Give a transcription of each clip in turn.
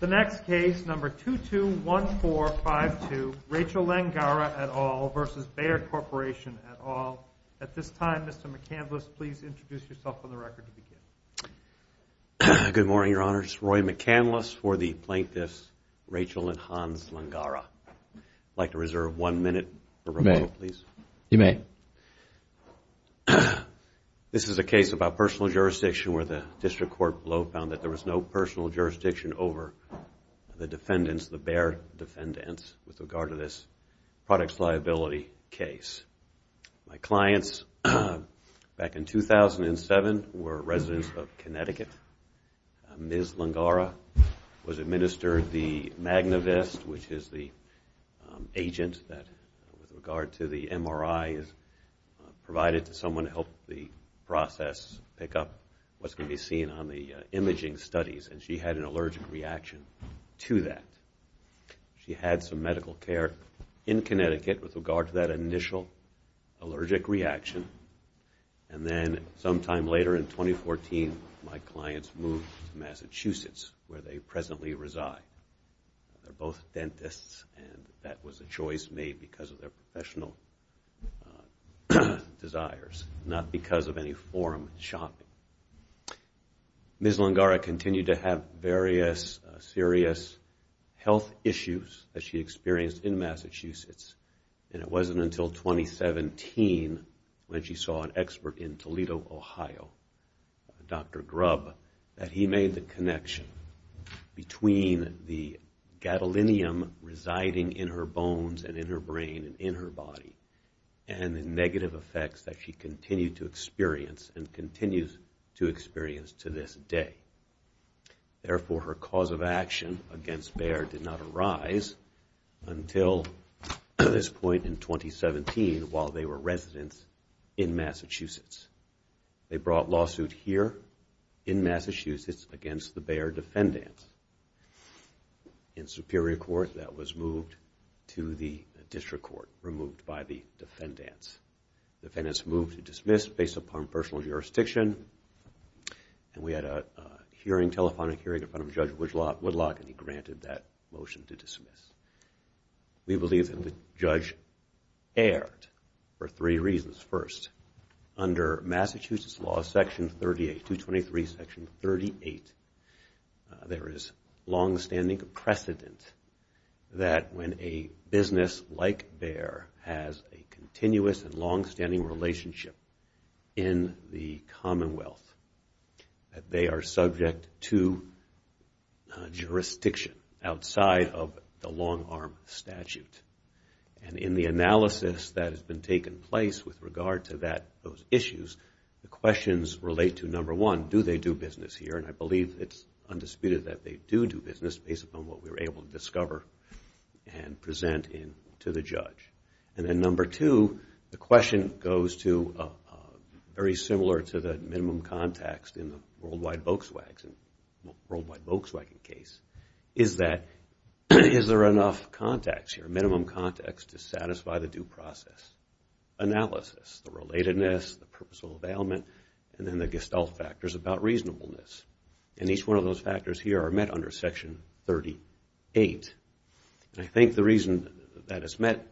The next case, number 221452, Rachel Langara et al. v. Bayer Corporation et al. At this time, Mr. McCandless, please introduce yourself on the record to begin. Good morning, Your Honor. It's Roy McCandless for the Plaintiffs, Rachel and Hans Langara. I'd like to reserve one minute for rebuttal, please. You may. This is a case about personal jurisdiction where the district court below found that there was no personal jurisdiction over the defendants, the Bayer defendants, with regard to this products liability case. My clients back in 2007 were residents of Connecticut. Ms. Langara was administered the MagnaVest, which is the agent that, with regard to the MRI, is provided to someone to help the process pick up what's going to be seen on the imaging studies, and she had an allergic reaction to that. She had some medical care in Connecticut with regard to that initial allergic reaction, and then sometime later in 2014, my clients moved to Massachusetts, where they presently reside. They're both dentists, and that was a choice made because of their professional desires, not because of any forum shopping. Ms. Langara continued to have various serious health issues that she experienced in Massachusetts, and it wasn't until 2017 when she saw an expert in Toledo, Ohio, Dr. Grubb, that he made the connection between the gadolinium residing in her bones and in her brain and in her body and the negative effects that she continued to experience and continues to experience to this day. Therefore, her cause of action against Bayer did not arise until this point in 2017, while they were residents in Massachusetts. They brought lawsuit here in Massachusetts against the Bayer defendants in Superior Court that was moved to the District Court, removed by the defendants. The defendants moved to dismiss based upon personal jurisdiction, and we had a hearing, telephonic hearing in front of Judge Woodlock, and he granted that motion to dismiss. We believe that the judge erred for three reasons. First, under Massachusetts Law, Section 38, 223, Section 38, there is longstanding precedent that when a business like Bayer has a continuous and longstanding relationship in the Commonwealth, that they are subject to jurisdiction outside of the long-arm statute. And in the analysis that has been taking place with regard to those issues, the questions relate to, number one, do they do business here, and I believe it's undisputed that they do do business based upon what we were able to discover and present to the judge. And then number two, the question goes to very similar to the minimum context in the worldwide Volkswagen case, is that is there enough context here, minimum context to satisfy the due process analysis, the relatedness, the purposeful availment, and then the gestalt factors about reasonableness. And each one of those factors here are met under Section 38. And I think the reason that it's met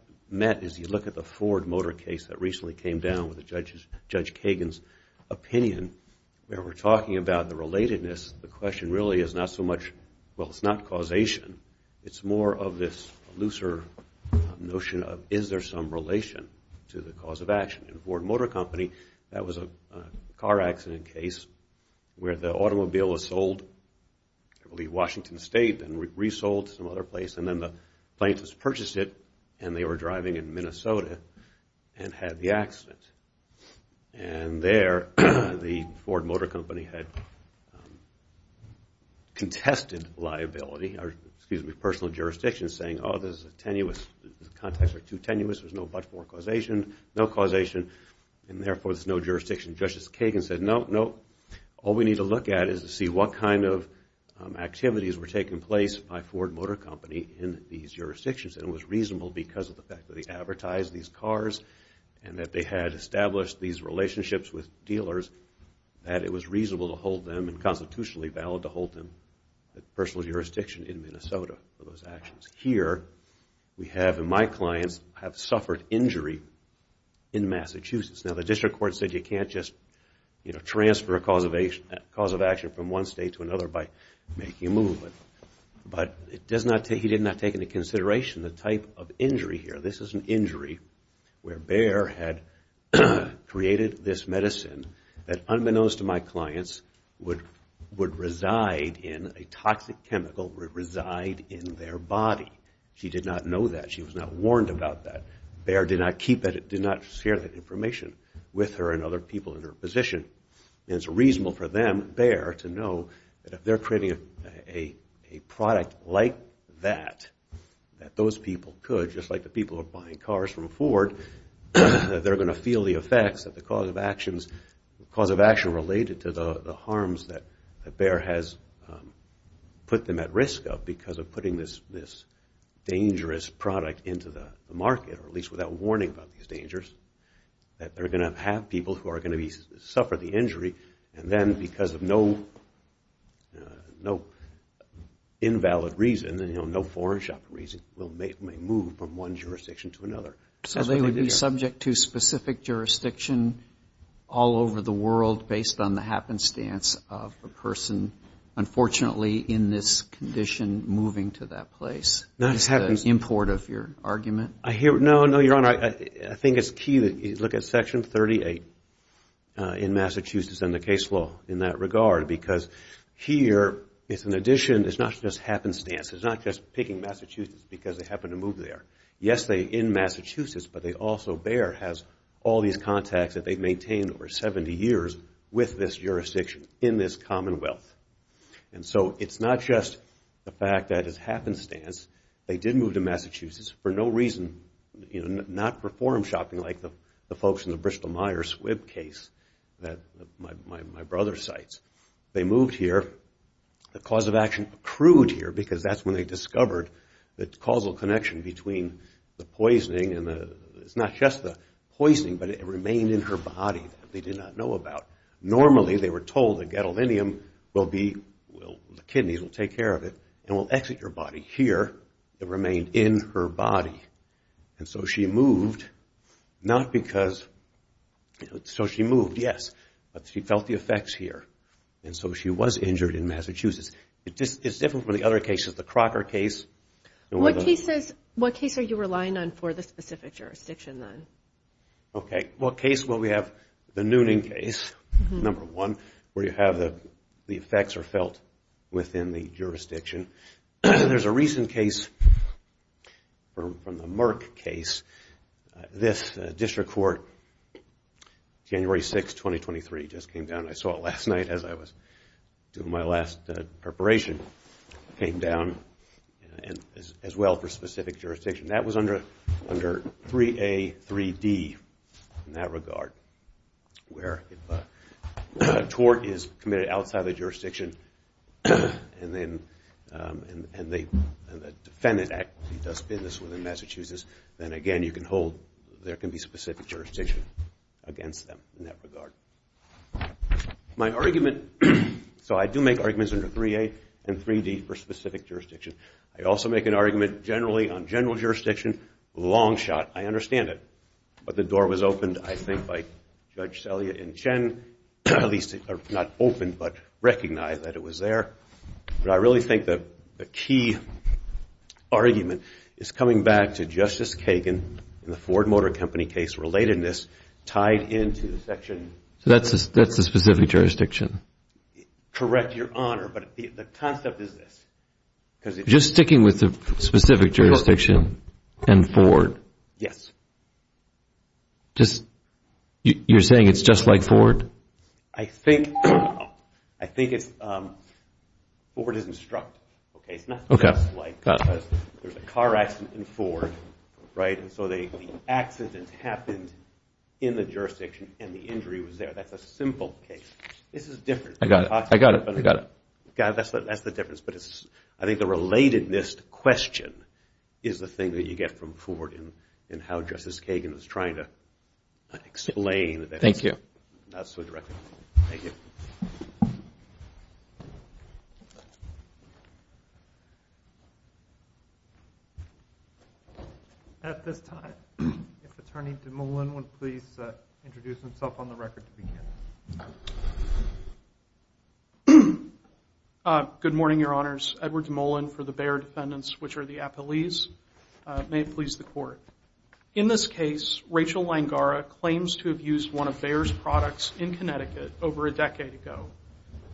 is you look at the Ford Motor case that recently came down with Judge Kagan's opinion, where we're talking about the relatedness, the question really is not so much, well, it's not causation, it's more of this looser notion of is there some relation to the cause of action. In Ford Motor Company, that was a car accident case where the automobile was sold, I believe Washington State, and resold to some other place, and then the plaintiffs purchased it and they were driving in Minnesota and had the accident. And there the Ford Motor Company had contested liability, or excuse me, personal jurisdiction, saying, oh, this is tenuous, the context is too tenuous, there's no but-for causation, no causation, and therefore there's no jurisdiction. Justice Kagan said, no, no, all we need to look at is to see what kind of activities were taking place by Ford Motor Company in these jurisdictions. And it was reasonable because of the fact that they advertised these cars and that they had established these relationships with dealers that it was reasonable to hold them and constitutionally valid to hold them at personal jurisdiction in Minnesota for those actions. Here, we have, and my clients have suffered injury in Massachusetts. Now, the district court said you can't just, you know, transfer a cause of action from one state to another by making a move, but he did not take into consideration the type of injury here. This is an injury where Bayer had created this medicine that, unbeknownst to my clients, would reside in a toxic chemical, would reside in their body. She did not know that. She was not warned about that. Bayer did not keep that, did not share that information with her and other people in her position. And it's reasonable for them, Bayer, to know that if they're creating a product like that, that those people could, just like the people who are buying cars from Ford, they're going to feel the effects of the cause of actions, the cause of action related to the harms that Bayer has put them at risk of because of putting this dangerous product into the market, or at least without warning about these dangers, that they're going to have people who are going to suffer the injury, and then because of no invalid reason, you know, no foreign shopper reason, will make them move from one jurisdiction to another. So they would be subject to specific jurisdiction all over the world based on the happenstance of a person, unfortunately, in this condition, moving to that place. That's the import of your argument. No, no, Your Honor. I think it's key that you look at Section 38 in Massachusetts and the case law in that regard because here, it's an addition. It's not just happenstance. It's not just picking Massachusetts because they happen to move there. Yes, they're in Massachusetts, but they also, Bayer has all these contacts that they've maintained over 70 years with this jurisdiction in this commonwealth. And so it's not just the fact that it's happenstance. They did move to Massachusetts for no reason, you know, not for foreign shopping like the folks in the Bristol-Myers-Swibb case that my brother cites. They moved here. The cause of action accrued here because that's when they discovered the causal connection between the poisoning, and it's not just the poisoning, but it remained in her body that they did not know about. Normally, they were told the gadolinium will be, the kidneys will take care of it, and will exit your body. Here, it remained in her body. And so she moved, not because, so she moved, yes, but she felt the effects here. And so she was injured in Massachusetts. It's different from the other cases, the Crocker case. What cases are you relying on for the specific jurisdiction, then? Okay, what case will we have? The Noonan case, number one, where you have the effects are felt within the jurisdiction. There's a recent case from the Merck case. This district court, January 6, 2023, just came down. And I saw it last night as I was doing my last preparation. It came down as well for specific jurisdiction. That was under 3A, 3D in that regard, where if a tort is committed outside the jurisdiction and the defendant actually does business within Massachusetts, then, again, you can hold, there can be specific jurisdiction against them in that regard. My argument, so I do make arguments under 3A and 3D for specific jurisdiction. I also make an argument generally on general jurisdiction. Long shot, I understand it. But the door was opened, I think, by Judge Selya and Chen. At least, not opened, but recognized that it was there. But I really think the key argument is coming back to Justice Kagan and the Ford Motor Company case relatedness tied into the section. So that's the specific jurisdiction? Correct, Your Honor, but the concept is this. Just sticking with the specific jurisdiction and Ford? Yes. You're saying it's just like Ford? I think it's Ford is instructive. It's not just like there's a car accident in Ford, right? And so the accident happened in the jurisdiction and the injury was there. That's a simple case. This is different. I got it. That's the difference. But I think the relatedness question is the thing that you get from Ford and how Justice Kagan is trying to explain it. Thank you. Not so directly. Thank you. At this time, if Attorney DeMolin would please introduce himself on the record. Good morning, Your Honors. Edward DeMolin for the Bayer Defendants, which are the appellees. May it please the Court. In this case, Rachel Langara claims to have used one of Bayer's products in Connecticut over a decade ago.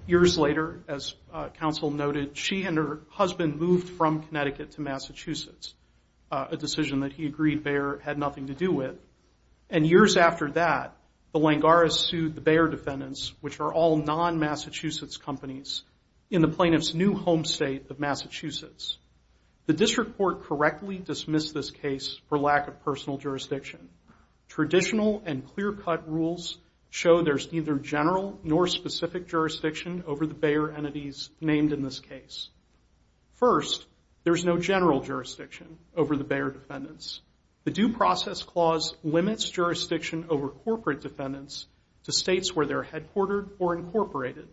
Years later, as counsel noted, she and her husband moved from Connecticut to Massachusetts, a decision that he agreed Bayer had nothing to do with. And years after that, the Langaras sued the Bayer Defendants, which are all non-Massachusetts companies, in the plaintiff's new home state of Massachusetts. The district court correctly dismissed this case for lack of personal jurisdiction. Traditional and clear-cut rules show there's neither general nor specific jurisdiction over the Bayer entities named in this case. First, there's no general jurisdiction over the Bayer Defendants. The Due Process Clause limits jurisdiction over corporate defendants to states where they're headquartered or incorporated.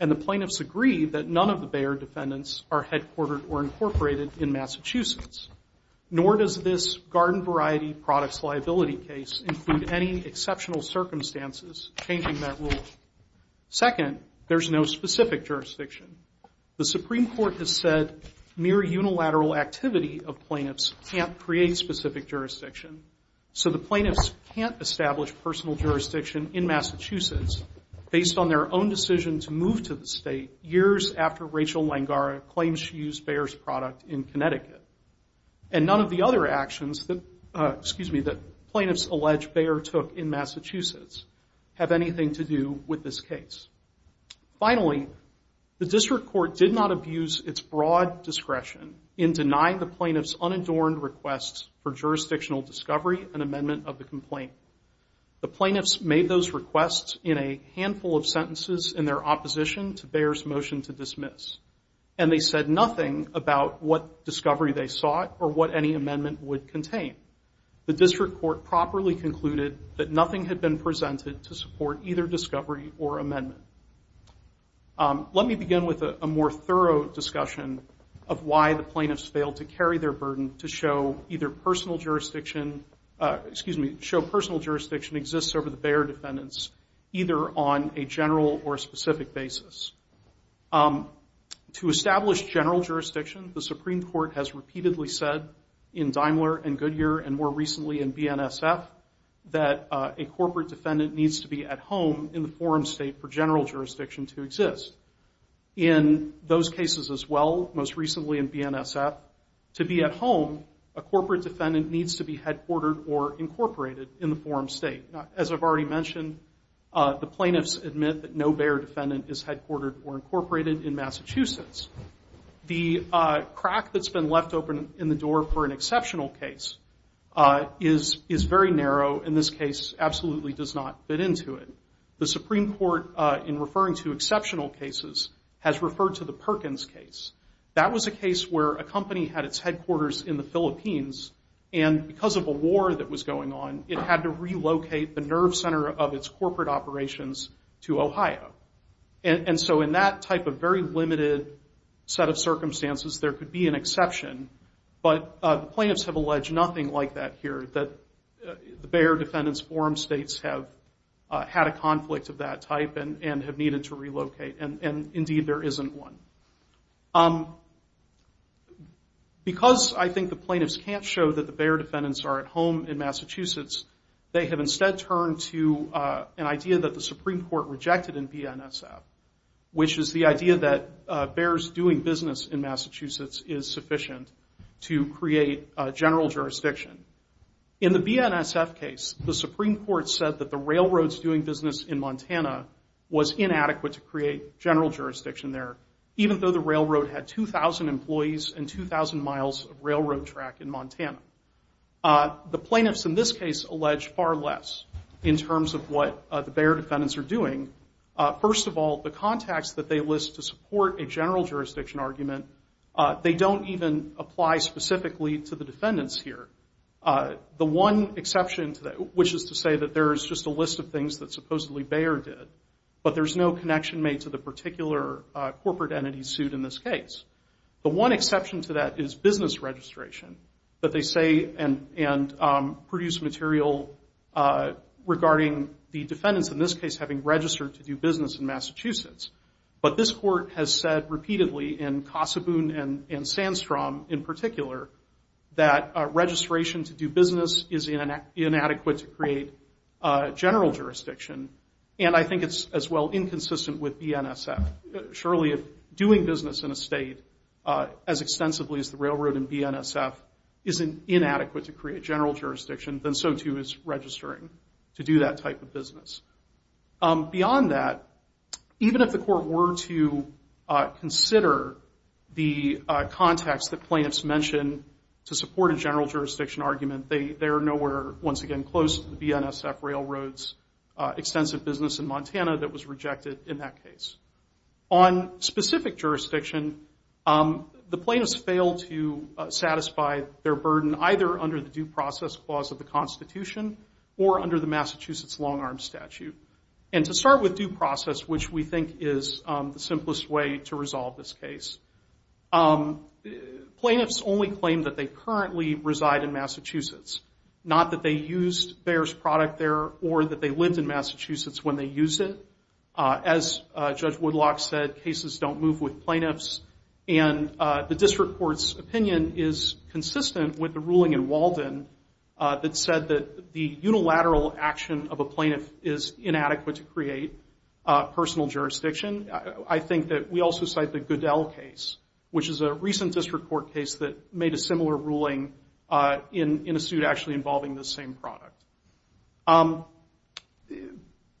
And the plaintiffs agree that none of the Bayer Defendants are headquartered or incorporated in Massachusetts. Nor does this garden variety products liability case include any exceptional circumstances changing that rule. Second, there's no specific jurisdiction. The Supreme Court has said mere unilateral activity of plaintiffs can't create specific jurisdiction, so the plaintiffs can't establish personal jurisdiction in Massachusetts based on their own decision to move to the state years after Rachel Langara claims she used Bayer's product in Connecticut. And none of the other actions that plaintiffs allege Bayer took in Massachusetts have anything to do with this case. Finally, the district court did not abuse its broad discretion in denying the plaintiffs unadorned requests for jurisdictional discovery and amendment of the complaint. The plaintiffs made those requests in a handful of sentences in their opposition to Bayer's motion to dismiss, and they said nothing about what discovery they sought or what any amendment would contain. The district court properly concluded that nothing had been presented to support either discovery or amendment. Let me begin with a more thorough discussion of why the plaintiffs failed to carry their burden to show personal jurisdiction exists over the Bayer Defendants either on a general or a specific basis. To establish general jurisdiction, the Supreme Court has repeatedly said in Daimler and Goodyear and more recently in BNSF that a corporate defendant needs to be at home in the forum state for general jurisdiction to exist. In those cases as well, most recently in BNSF, to be at home, a corporate defendant needs to be headquartered or incorporated in the forum state. As I've already mentioned, the plaintiffs admit that no Bayer defendant is headquartered or incorporated in Massachusetts. The crack that's been left open in the door for an exceptional case is very narrow and this case absolutely does not fit into it. The Supreme Court, in referring to exceptional cases, has referred to the Perkins case. That was a case where a company had its headquarters in the Philippines and because of a war that was going on, it had to relocate the nerve center of its corporate operations to Ohio. In that type of very limited set of circumstances, there could be an exception, but the plaintiffs have alleged nothing like that here, that the Bayer Defendants Forum States have had a conflict of that type and have needed to relocate and indeed there isn't one. Because I think the plaintiffs can't show that the Bayer Defendants are at home in Massachusetts, they have instead turned to an idea that the Supreme Court rejected in BNSF, which is the idea that Bayer's doing business in Massachusetts is sufficient to create general jurisdiction. In the BNSF case, the Supreme Court said that the railroad's doing business in Montana was inadequate to create general jurisdiction there, even though the railroad had 2,000 employees and 2,000 miles of railroad track in Montana. The plaintiffs in this case allege far less in terms of what the Bayer Defendants are doing. First of all, the context that they list to support a general jurisdiction argument, they don't even apply specifically to the defendants here. The one exception to that, which is to say that there is just a list of things that supposedly Bayer did, but there's no connection made to the particular corporate entity sued in this case. The one exception to that is business registration, that they say and produce material regarding the defendants in this case having registered to do business in Massachusetts. But this court has said repeatedly in Kossaboon and Sandstrom in particular that registration to do business is inadequate to create general jurisdiction, and I think it's as well inconsistent with BNSF. Surely, if doing business in a state as extensively as the railroad in BNSF isn't inadequate to create general jurisdiction, then so too is registering to do that type of business. Beyond that, even if the court were to consider the context that plaintiffs mention to support a general jurisdiction argument, they are nowhere, once again, close to the BNSF Railroad's extensive business in Montana that was rejected in that case. On specific jurisdiction, the plaintiffs fail to satisfy their burden either under the due process clause of the Constitution or under the Massachusetts long-arm statute. And to start with due process, which we think is the simplest way to resolve this case, plaintiffs only claim that they currently reside in Massachusetts, not that they used Bayer's product there or that they lived in Massachusetts when they used it. As Judge Woodlock said, cases don't move with plaintiffs, and the district court's opinion is consistent with the ruling in Walden that said that the unilateral action of a plaintiff is inadequate to create personal jurisdiction. I think that we also cite the Goodell case, which is a recent district court case that made a similar ruling in a suit actually involving this same product.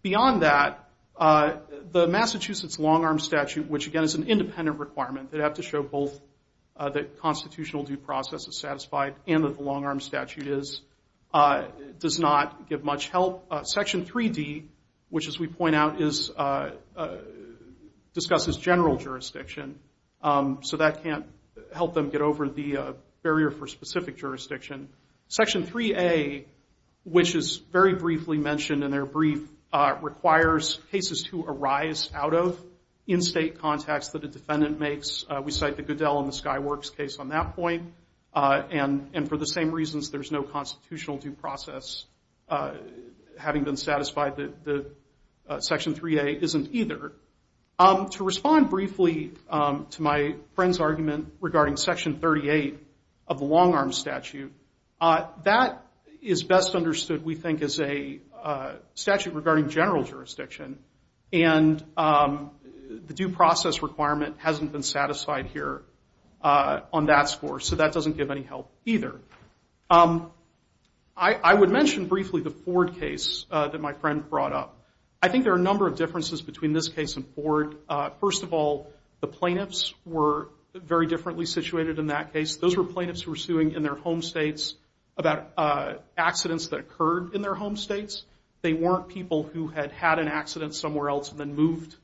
Beyond that, the Massachusetts long-arm statute, which, again, is an independent requirement. They have to show both that constitutional due process is satisfied and that the long-arm statute does not give much help. Section 3D, which, as we point out, discusses general jurisdiction, so that can't help them get over the barrier for specific jurisdiction. Section 3A, which is very briefly mentioned in their brief, requires cases to arise out of in-state contacts that a defendant makes. We cite the Goodell and the Skyworks case on that point. And for the same reasons, there's no constitutional due process, having been satisfied that Section 3A isn't either. To respond briefly to my friend's argument regarding Section 38 of the long-arm statute, that is best understood, we think, as a statute regarding general jurisdiction, and the due process requirement hasn't been satisfied here on that score, so that doesn't give any help either. I would mention briefly the Ford case that my friend brought up. I think there are a number of differences between this case and Ford. First of all, the plaintiffs were very differently situated in that case. Those were plaintiffs who were suing in their home states about accidents that occurred in their home states. They weren't people who had had an accident somewhere else and then moved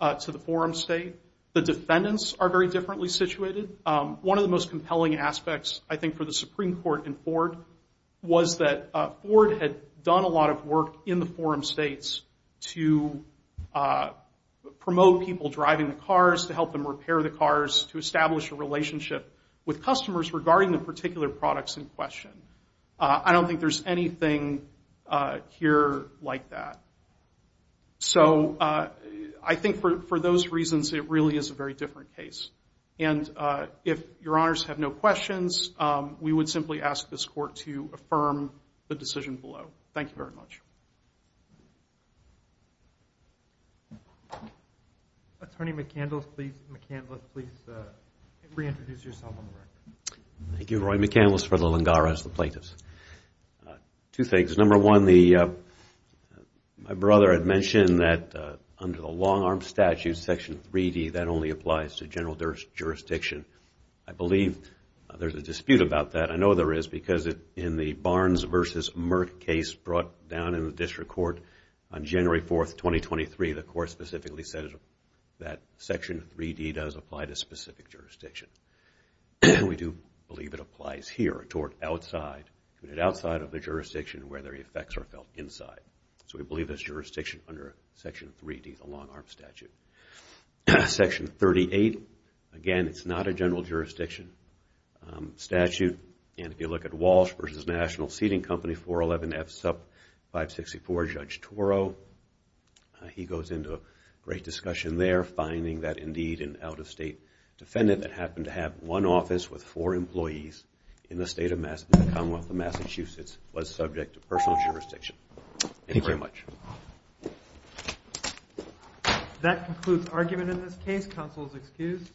to the forum state. The defendants are very differently situated. One of the most compelling aspects, I think, for the Supreme Court in Ford was that Ford had done a lot of work in the forum states to promote people driving the cars, to help them repair the cars, to establish a relationship with customers regarding the particular products in question. I don't think there's anything here like that. So I think for those reasons, it really is a very different case. And if Your Honors have no questions, we would simply ask this court to affirm the decision below. Thank you very much. Attorney McCandless, please reintroduce yourself on the record. Thank you. Roy McCandless for the Lengaras, the plaintiffs. Two things. Number one, my brother had mentioned that under the long-arm statute, Section 3D, that only applies to general jurisdiction. I believe there's a dispute about that. I know there is because in the Barnes v. Merck case brought down in the district court on January 4, 2023, the court specifically said that Section 3D does apply to specific jurisdiction. We do believe it applies here toward outside, outside of the jurisdiction where the effects are felt inside. So we believe it's jurisdiction under Section 3D, the long-arm statute. Section 38, again, it's not a general jurisdiction statute. And if you look at Walsh v. National Seating Company, 411F, sub 564, Judge Toro, he goes into a great discussion there, finding that indeed an out-of-state defendant that happened to have one office with four employees in the state of Massachusetts was subject to personal jurisdiction. Thank you very much. That concludes argument in this case. Counsel is excused.